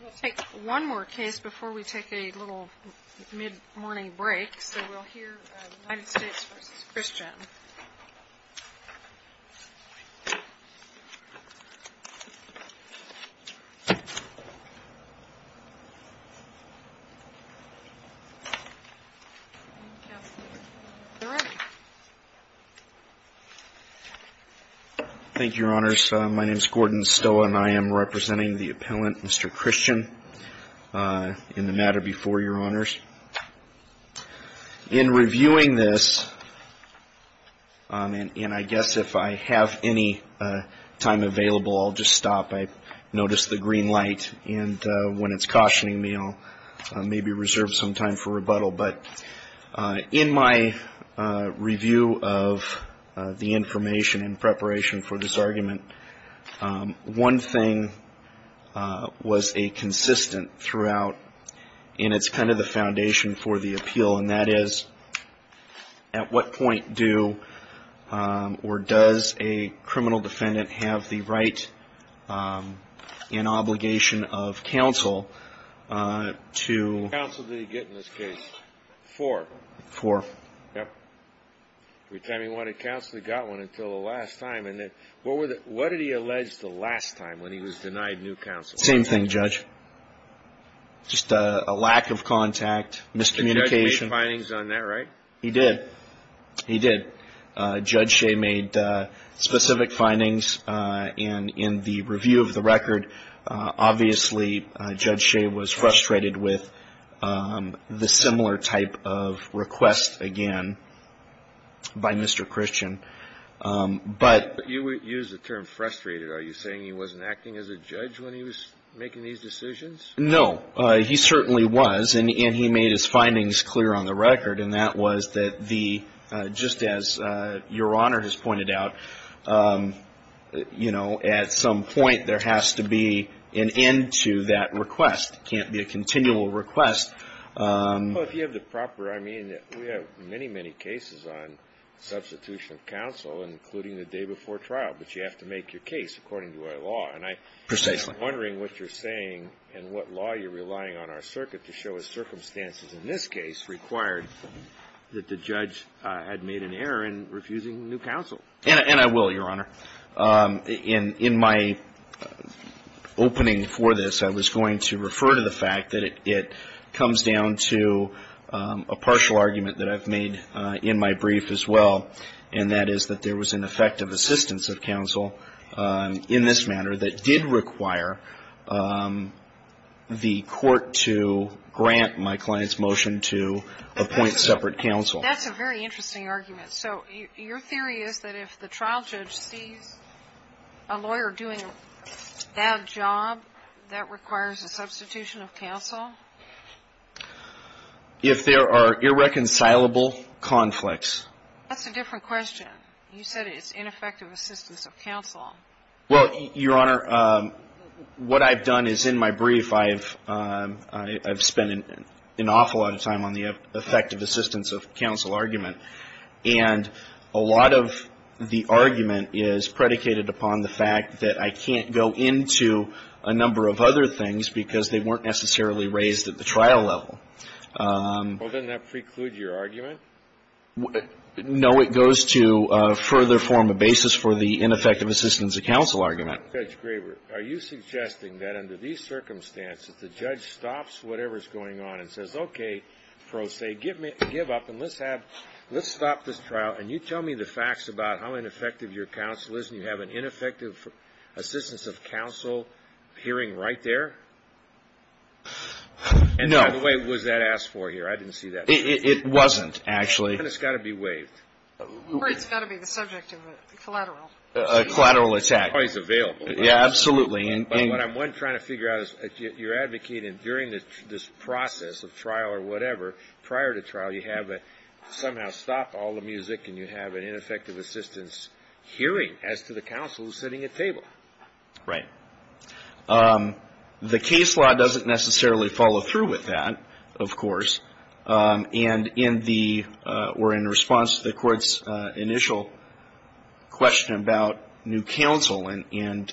We'll take one more case before we take a little mid-morning break. So we'll hear United States v. Christian. Thank you, Your Honors. My name is Gordon Stoa, and I am representing the appellant, Mr. Christian, in the matter before Your Honors. In reviewing this, and I guess if I have any time available, I'll just stop. I noticed the green light, and when it's cautioning me, I'll maybe reserve some time for rebuttal. But in my review of the information in preparation for this argument, one thing was a consistent throughout, and it's kind of the foundation for the appeal, and that is, at what point do or does a criminal defendant have the right and obligation of counsel to get counsel? What counsel did he get in this case? Four. Four. Every time he wanted counsel, he got one until the last time. What did he allege the last time when he was denied new counsel? Same thing, Judge. Just a lack of contact, miscommunication. The judge made findings on that, right? He did. He did. Judge Shea made specific findings, and in the review of the record, obviously, Judge Shea was frustrated with the similar type of request again by Mr. Christian. But you used the term frustrated. Are you saying he wasn't acting as a judge when he was making these decisions? No. He certainly was, and he made his findings clear on the record, and that was that just as Your Honor has pointed out, at some point, there has to be an end to that request. It can't be a continual request. Well, if you have the proper, I mean, we have many, many cases on substitution of counsel, including the day before trial, but you have to make your case according to our law. And I'm wondering what you're saying and what law you're relying on our circuit to show is circumstances in this case required that the judge had made an error in refusing new counsel. And I will, Your Honor. In my opening for this, I was going to refer to the fact that it comes down to a partial argument that I've made in my brief as well, and that is that there was an effective assistance of counsel in this manner that did require the court to grant my client's motion to appoint separate counsel. That's a very interesting argument. So your theory is that if the trial judge sees a lawyer doing a bad job, that requires a substitution of counsel? If there are irreconcilable conflicts. That's a different question. You said it's ineffective assistance of counsel. Well, Your Honor, what I've done is in my brief, I've spent an awful lot of time on the effective assistance of counsel argument. And a lot of the argument is predicated upon the fact that I can't go into a number of other things because they weren't necessarily raised at the trial level. Well, doesn't that preclude your argument? No, it goes to further form a basis for the ineffective assistance of counsel argument. Judge Graber, are you suggesting that under these circumstances, the judge stops whatever's going on and says, okay, pro se, give up and let's stop this trial and you tell me the facts about how ineffective your counsel is and you have an ineffective assistance of counsel hearing right there? No. And by the way, was that asked for here? I didn't see that. It wasn't, actually. And it's got to be waived. Or it's got to be the subject of a collateral. A collateral attack. It's always available. Yeah, absolutely. But what I'm trying to figure out is you're advocating during this process of trial or whatever, prior to trial, you have to somehow stop all the music and you have an ineffective assistance hearing as to the counsel who's sitting at table. Right. The case law doesn't necessarily follow through with that, of course. And in the or in response to the Court's initial question about new counsel and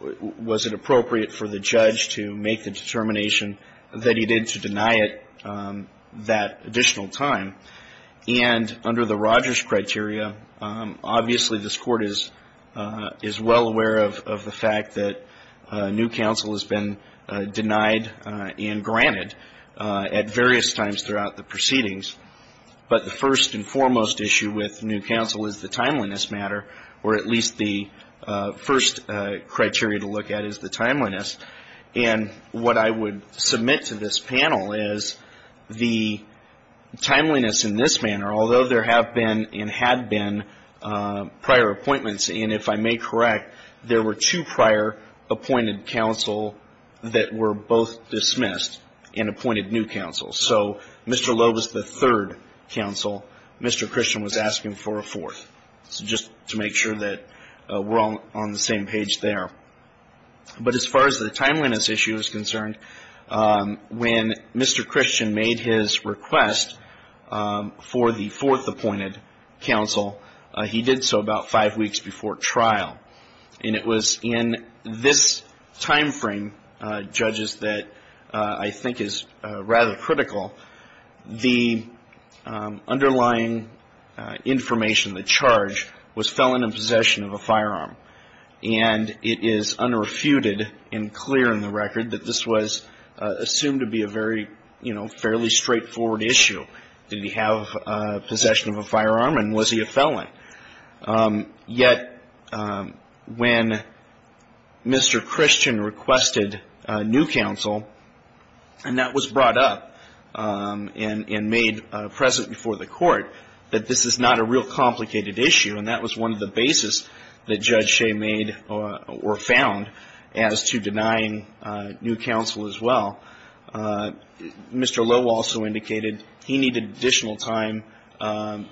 was it appropriate for the judge to make the determination that he did to deny it that additional time. And under the Rogers criteria, obviously this Court is well aware of the fact that new counsel has been denied and granted at various times throughout the proceedings. But the first and foremost issue with new counsel is the timeliness matter, or at least the first criteria to look at is the timeliness. And what I would submit to this panel is the timeliness in this manner, although there have been and had been prior appointments, and if I may correct, there were two prior appointed counsel that were both dismissed and appointed new counsel. So Mr. Lowe was the third counsel. Mr. Christian was asking for a fourth, just to make sure that we're all on the same page there. But as far as the timeliness issue is concerned, when Mr. Christian made his request for the fourth appointed counsel, he did so about five weeks before trial. And it was in this timeframe, judges, that I think is rather critical, the underlying information, the charge, was felon in possession of a firearm. And it is unrefuted and clear in the record that this was assumed to be a very, you know, fairly straightforward issue. Did he have possession of a firearm and was he a felon? Yet when Mr. Christian requested new counsel, and that was brought up and made present before the Court, that this is not a real complicated issue. And that was one of the basis that Judge Shea made or found as to denying new counsel as well. Mr. Lowe also indicated he needed additional time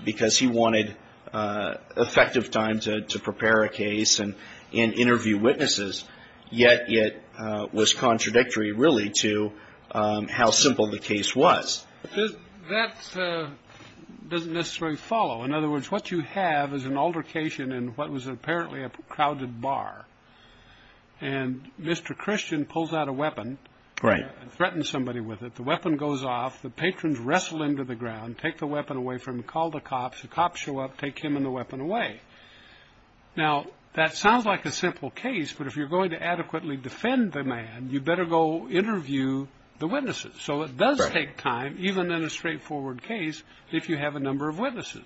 because he wanted effective time to prepare a case and interview witnesses. Yet it was contradictory, really, to how simple the case was. That doesn't necessarily follow. In other words, what you have is an altercation in what was apparently a crowded bar. And Mr. Christian pulls out a weapon and threatens somebody with it. The weapon goes off. The patrons wrestle into the ground, take the weapon away from him, call the cops. The cops show up, take him and the weapon away. Now, that sounds like a simple case, but if you're going to adequately defend the man, you better go interview the witnesses. So it does take time, even in a straightforward case, if you have a number of witnesses.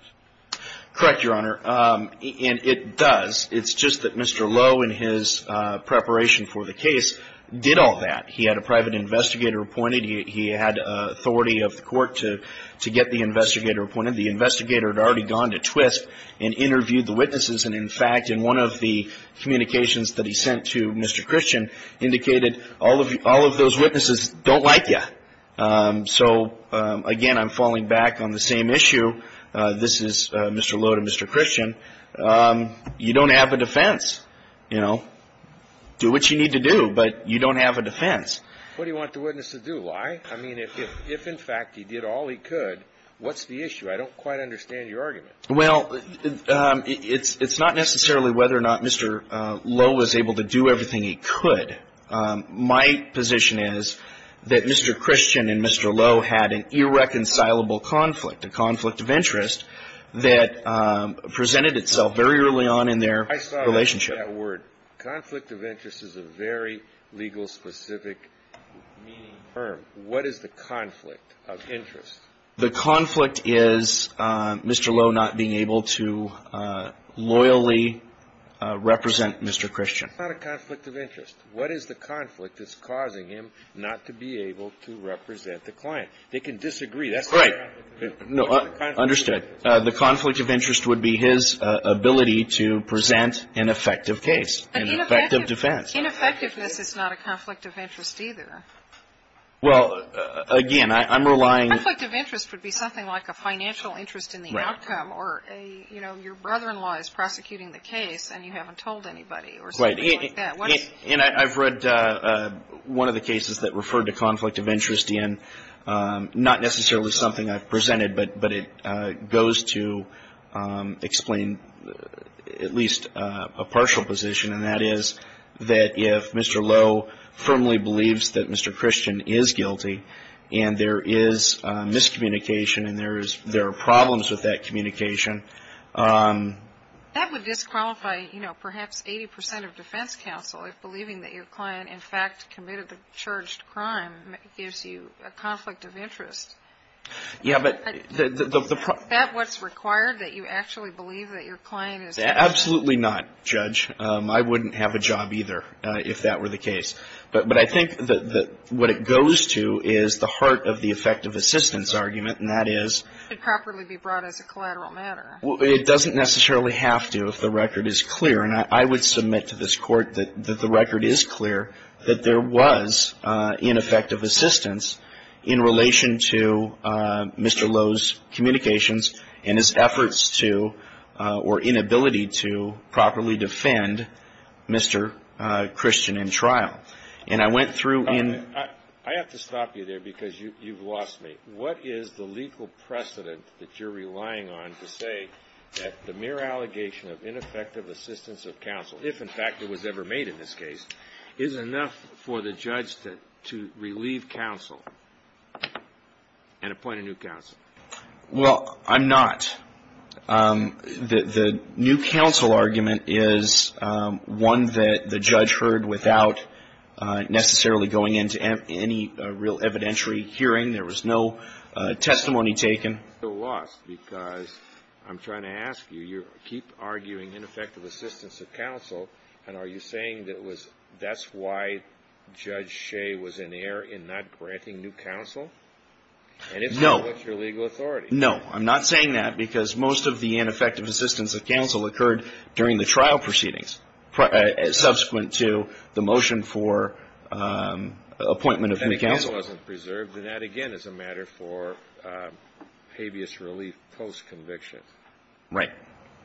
Correct, Your Honor. And it does. It's just that Mr. Lowe, in his preparation for the case, did all that. He had a private investigator appointed. He had authority of the Court to get the investigator appointed. And, in fact, in one of the communications that he sent to Mr. Christian, indicated all of those witnesses don't like you. So, again, I'm falling back on the same issue. This is Mr. Lowe to Mr. Christian. You don't have a defense. You know, do what you need to do, but you don't have a defense. What do you want the witness to do? Lie? I mean, if, in fact, he did all he could, what's the issue? I don't quite understand your argument. Well, it's not necessarily whether or not Mr. Lowe was able to do everything he could. My position is that Mr. Christian and Mr. Lowe had an irreconcilable conflict, a conflict of interest that presented itself very early on in their relationship. I saw that word. Conflict of interest is a very legal-specific meaning term. What is the conflict of interest? The conflict is Mr. Lowe not being able to loyally represent Mr. Christian. It's not a conflict of interest. What is the conflict that's causing him not to be able to represent the client? They can disagree. Right. No, understood. The conflict of interest would be his ability to present an effective case, an effective defense. But ineffectiveness is not a conflict of interest, either. Well, again, I'm relying — The conflict of interest would be something like a financial interest in the outcome or a, you know, your brother-in-law is prosecuting the case and you haven't told anybody or something like that. Right. And I've read one of the cases that referred to conflict of interest in not necessarily something I've presented, but it goes to explain at least a partial position, and that is that if Mr. Lowe firmly believes that Mr. Christian is guilty and there is miscommunication and there are problems with that communication — That would disqualify, you know, perhaps 80 percent of defense counsel if believing that your client in fact committed the charged crime gives you a conflict of interest. Yeah, but the — Is that what's required, that you actually believe that your client is guilty? Absolutely not, Judge. I wouldn't have a job either if that were the case. But I think that what it goes to is the heart of the effective assistance argument, and that is — It should properly be brought as a collateral matter. It doesn't necessarily have to if the record is clear. And I would submit to this Court that the record is clear that there was ineffective assistance in relation to Mr. Lowe's communications and his efforts to — or inability to properly defend Mr. Christian in trial. And I went through in — I have to stop you there because you've lost me. What is the legal precedent that you're relying on to say that the mere allegation of ineffective assistance of counsel, if in fact it was ever made in this case, is enough for the judge to relieve counsel and appoint a new counsel? Well, I'm not. The new counsel argument is one that the judge heard without necessarily going into any real evidentiary hearing. There was no testimony taken. I'm still lost because I'm trying to ask you. You keep arguing ineffective assistance of counsel, and are you saying that was — that's why Judge Shea was in error in not granting new counsel? No. What's your legal authority? No. I'm not saying that because most of the ineffective assistance of counsel occurred during the trial proceedings, subsequent to the motion for appointment of new counsel. And if counsel wasn't preserved, then that, again, is a matter for habeas relief post-conviction. Right.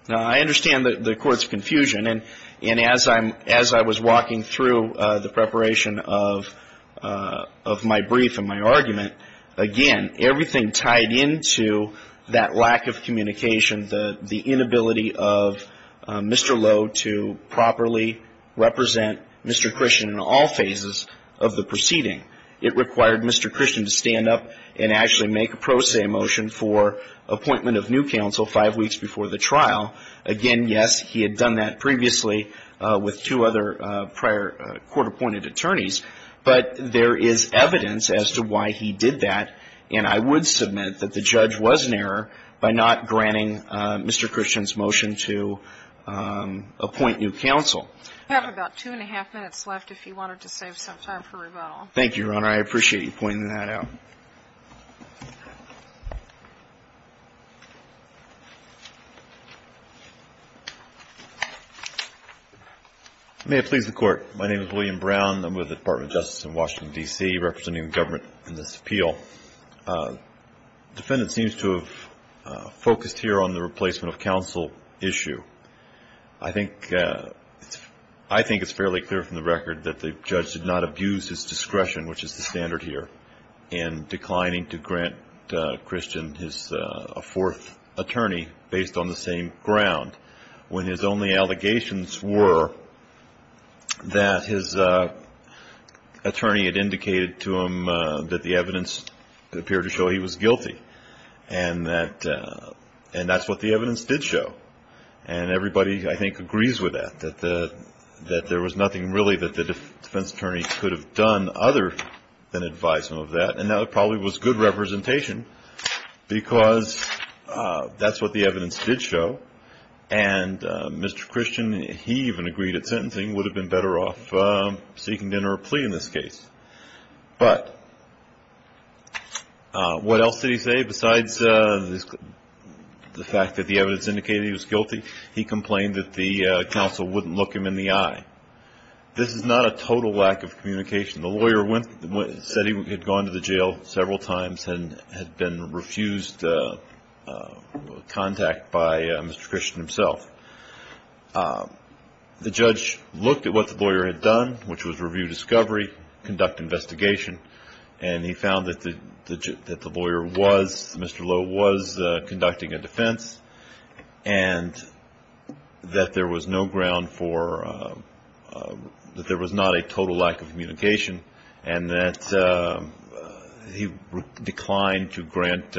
Now, I understand the Court's confusion. And as I'm — as I was walking through the preparation of my brief and my argument, again, everything tied into that lack of communication, the inability of Mr. Lowe to properly represent Mr. Christian in all phases of the proceeding. It required Mr. Christian to stand up and actually make a pro se motion for appointment of new counsel five weeks before the trial. Again, yes, he had done that previously with two other prior court-appointed attorneys. But there is evidence as to why he did that. And I would submit that the judge was in error by not granting Mr. Christian's motion to appoint new counsel. We have about two and a half minutes left, if you wanted to save some time for rebuttal. Thank you, Your Honor. I appreciate you pointing that out. May it please the Court. My name is William Brown. I'm with the Department of Justice in Washington, D.C., representing the government in this appeal. The defendant seems to have focused here on the replacement of counsel issue. I think — I think it's fairly clear from the record that the judge did not abuse his discretion, which is the standard here. And declining to grant Christian his fourth attorney based on the same ground, when his only allegations were that his attorney had indicated to him that the evidence appeared to show he was guilty. And that's what the evidence did show. And everybody, I think, agrees with that, that there was nothing really that the defense attorney could have done other than advise him of that. And that probably was good representation because that's what the evidence did show. And Mr. Christian, he even agreed that sentencing would have been better off seeking a plea in this case. But what else did he say besides the fact that the evidence indicated he was guilty? He complained that the counsel wouldn't look him in the eye. This is not a total lack of communication. The lawyer said he had gone to the jail several times and had been refused contact by Mr. Christian himself. The judge looked at what the lawyer had done, which was review discovery, conduct investigation, and he found that the lawyer was — Mr. Lowe was conducting a defense, and that there was no ground for — that there was not a total lack of communication, and that he declined to grant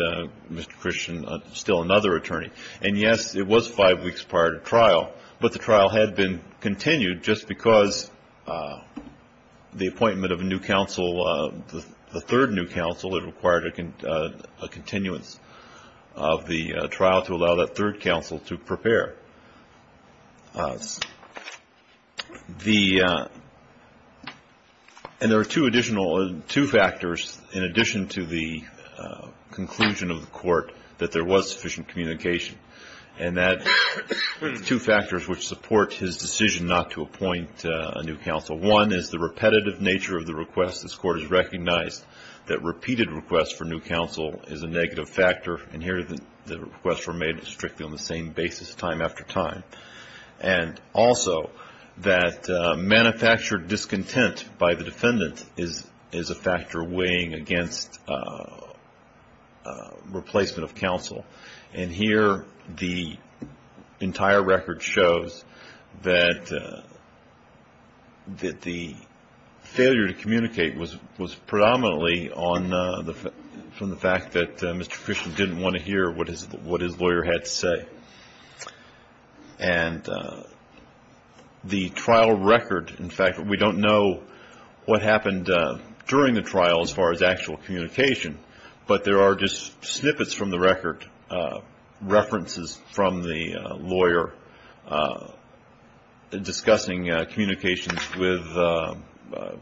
Mr. Christian still another attorney. And, yes, it was five weeks prior to trial, but the trial had been continued just because the appointment of a new counsel, the third new counsel, it required a continuance of the trial to allow that third counsel to prepare. And there are two additional — two factors in addition to the conclusion of the court that there was sufficient communication, and that — two factors which support his decision not to appoint a new counsel. One is the repetitive nature of the request. This Court has recognized that repeated requests for new counsel is a negative factor, and here the requests were made strictly on the same basis time after time. And also that manufactured discontent by the defendant is a factor weighing against replacement of counsel. And here the entire record shows that the failure to communicate was predominantly on — from the fact that Mr. Christian didn't want to hear what his lawyer had to say. And the trial record, in fact, we don't know what happened during the trial as far as actual communication, but there are just snippets from the record, references from the lawyer, discussing communications with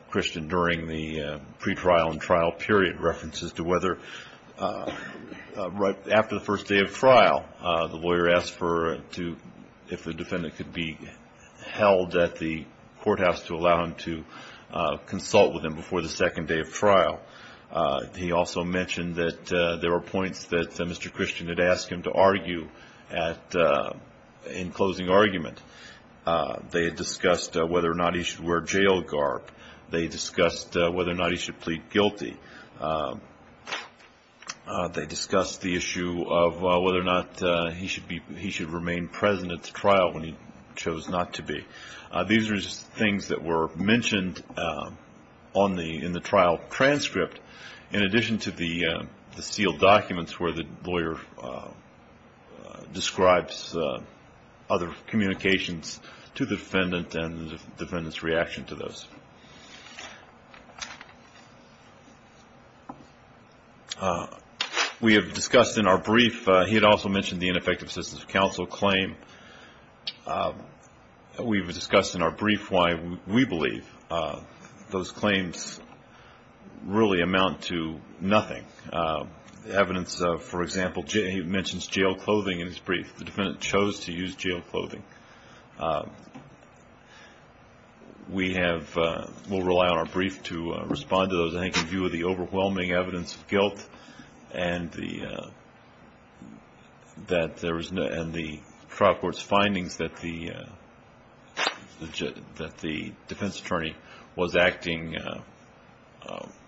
Christian during the pretrial and trial period, references to whether — right after the first day of trial, the lawyer asked for — if the defendant could be held at the courthouse to allow him to consult with him before the second day of trial. He also mentioned that there were points that Mr. Christian had asked him to argue at — in closing argument. They had discussed whether or not he should wear a jail guard. They discussed whether or not he should plead guilty. They discussed the issue of whether or not he should be — he should remain present at the trial when he chose not to be. These are just things that were mentioned on the — in the trial transcript, in addition to the sealed documents where the lawyer describes other communications to the defendant and the defendant's reaction to those. We have discussed in our brief — he had also mentioned the ineffective assistance of counsel claim. We've discussed in our brief why we believe those claims really amount to nothing. Evidence of, for example, he mentions jail clothing in his brief. The defendant chose to use jail clothing. We have — we'll rely on our brief to respond to those. He's making view of the overwhelming evidence of guilt and the — that there was — and the trial court's findings that the defense attorney was acting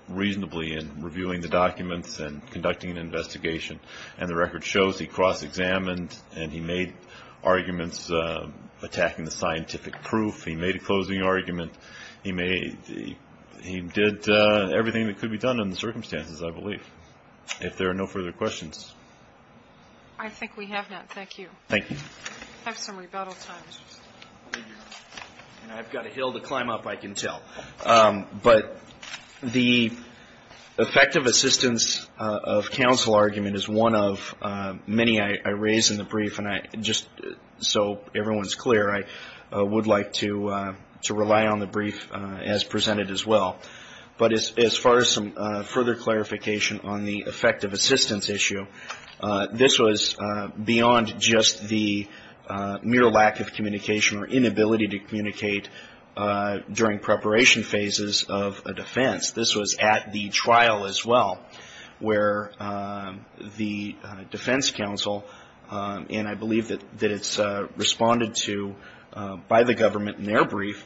reasonably in reviewing the documents and conducting an investigation. And the record shows he cross-examined and he made arguments attacking the scientific proof. He made a closing argument. He made — he did everything that could be done in the circumstances, I believe, if there are no further questions. I think we have none. Thank you. Thank you. Have some rebuttal time. I've got a hill to climb up, I can tell. But the effective assistance of counsel argument is one of many I raise in the brief. And just so everyone's clear, I would like to rely on the brief as presented as well. But as far as some further clarification on the effective assistance issue, this was beyond just the mere lack of communication or inability to communicate during preparation phases of a defense. This was at the trial as well, where the defense counsel, and I believe that it's responded to by the government in their brief,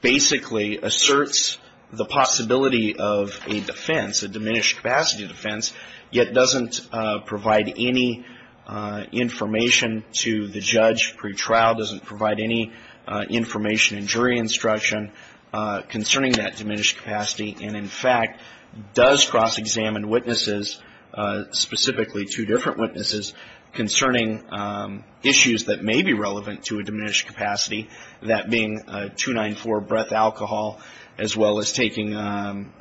basically asserts the possibility of a defense, a diminished capacity defense, yet doesn't provide any information to the judge pre-trial, doesn't provide any information in jury instruction concerning that diminished capacity, and in fact does cross-examine witnesses, specifically two different witnesses, concerning issues that may be relevant to a diminished capacity, that being 294 breath alcohol, as well as taking an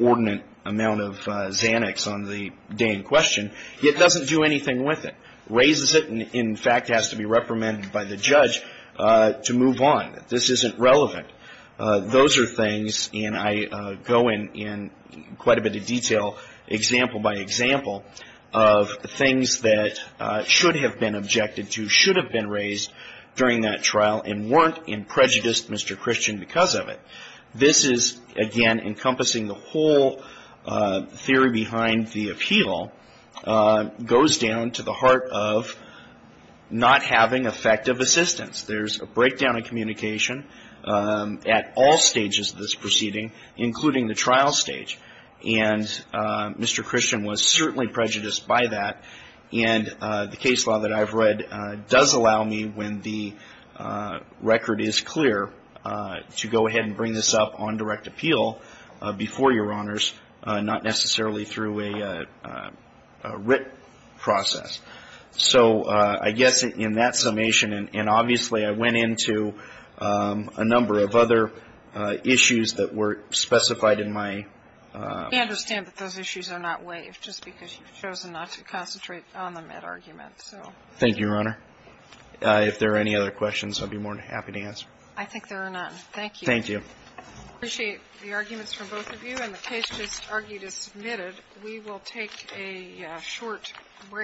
ordinate amount of Xanax on the day in question, yet doesn't do anything with it. Raises it, and in fact has to be reprimanded by the judge to move on. This isn't relevant. Those are things, and I go in quite a bit of detail, example by example, of things that should have been objected to, should have been raised during that trial, and weren't and prejudiced Mr. Christian because of it. This is, again, encompassing the whole theory behind the appeal, goes down to the heart of not having effective assistance. There's a breakdown of communication at all stages of this proceeding, including the trial stage, and Mr. Christian was certainly prejudiced by that, and the case law that I've read does allow me, when the record is clear, to go ahead and bring this up on direct appeal before Your Honors, not necessarily through a writ process. So I guess in that summation, and obviously I went into a number of other issues that were specified in my... We understand that those issues are not waived, just because you've chosen not to concentrate on the Met argument, so... Thank you, Your Honor. If there are any other questions, I'd be more than happy to answer. I think there are none. Thank you. Thank you. I appreciate the arguments from both of you, and the case just argued is submitted. We will take a short break.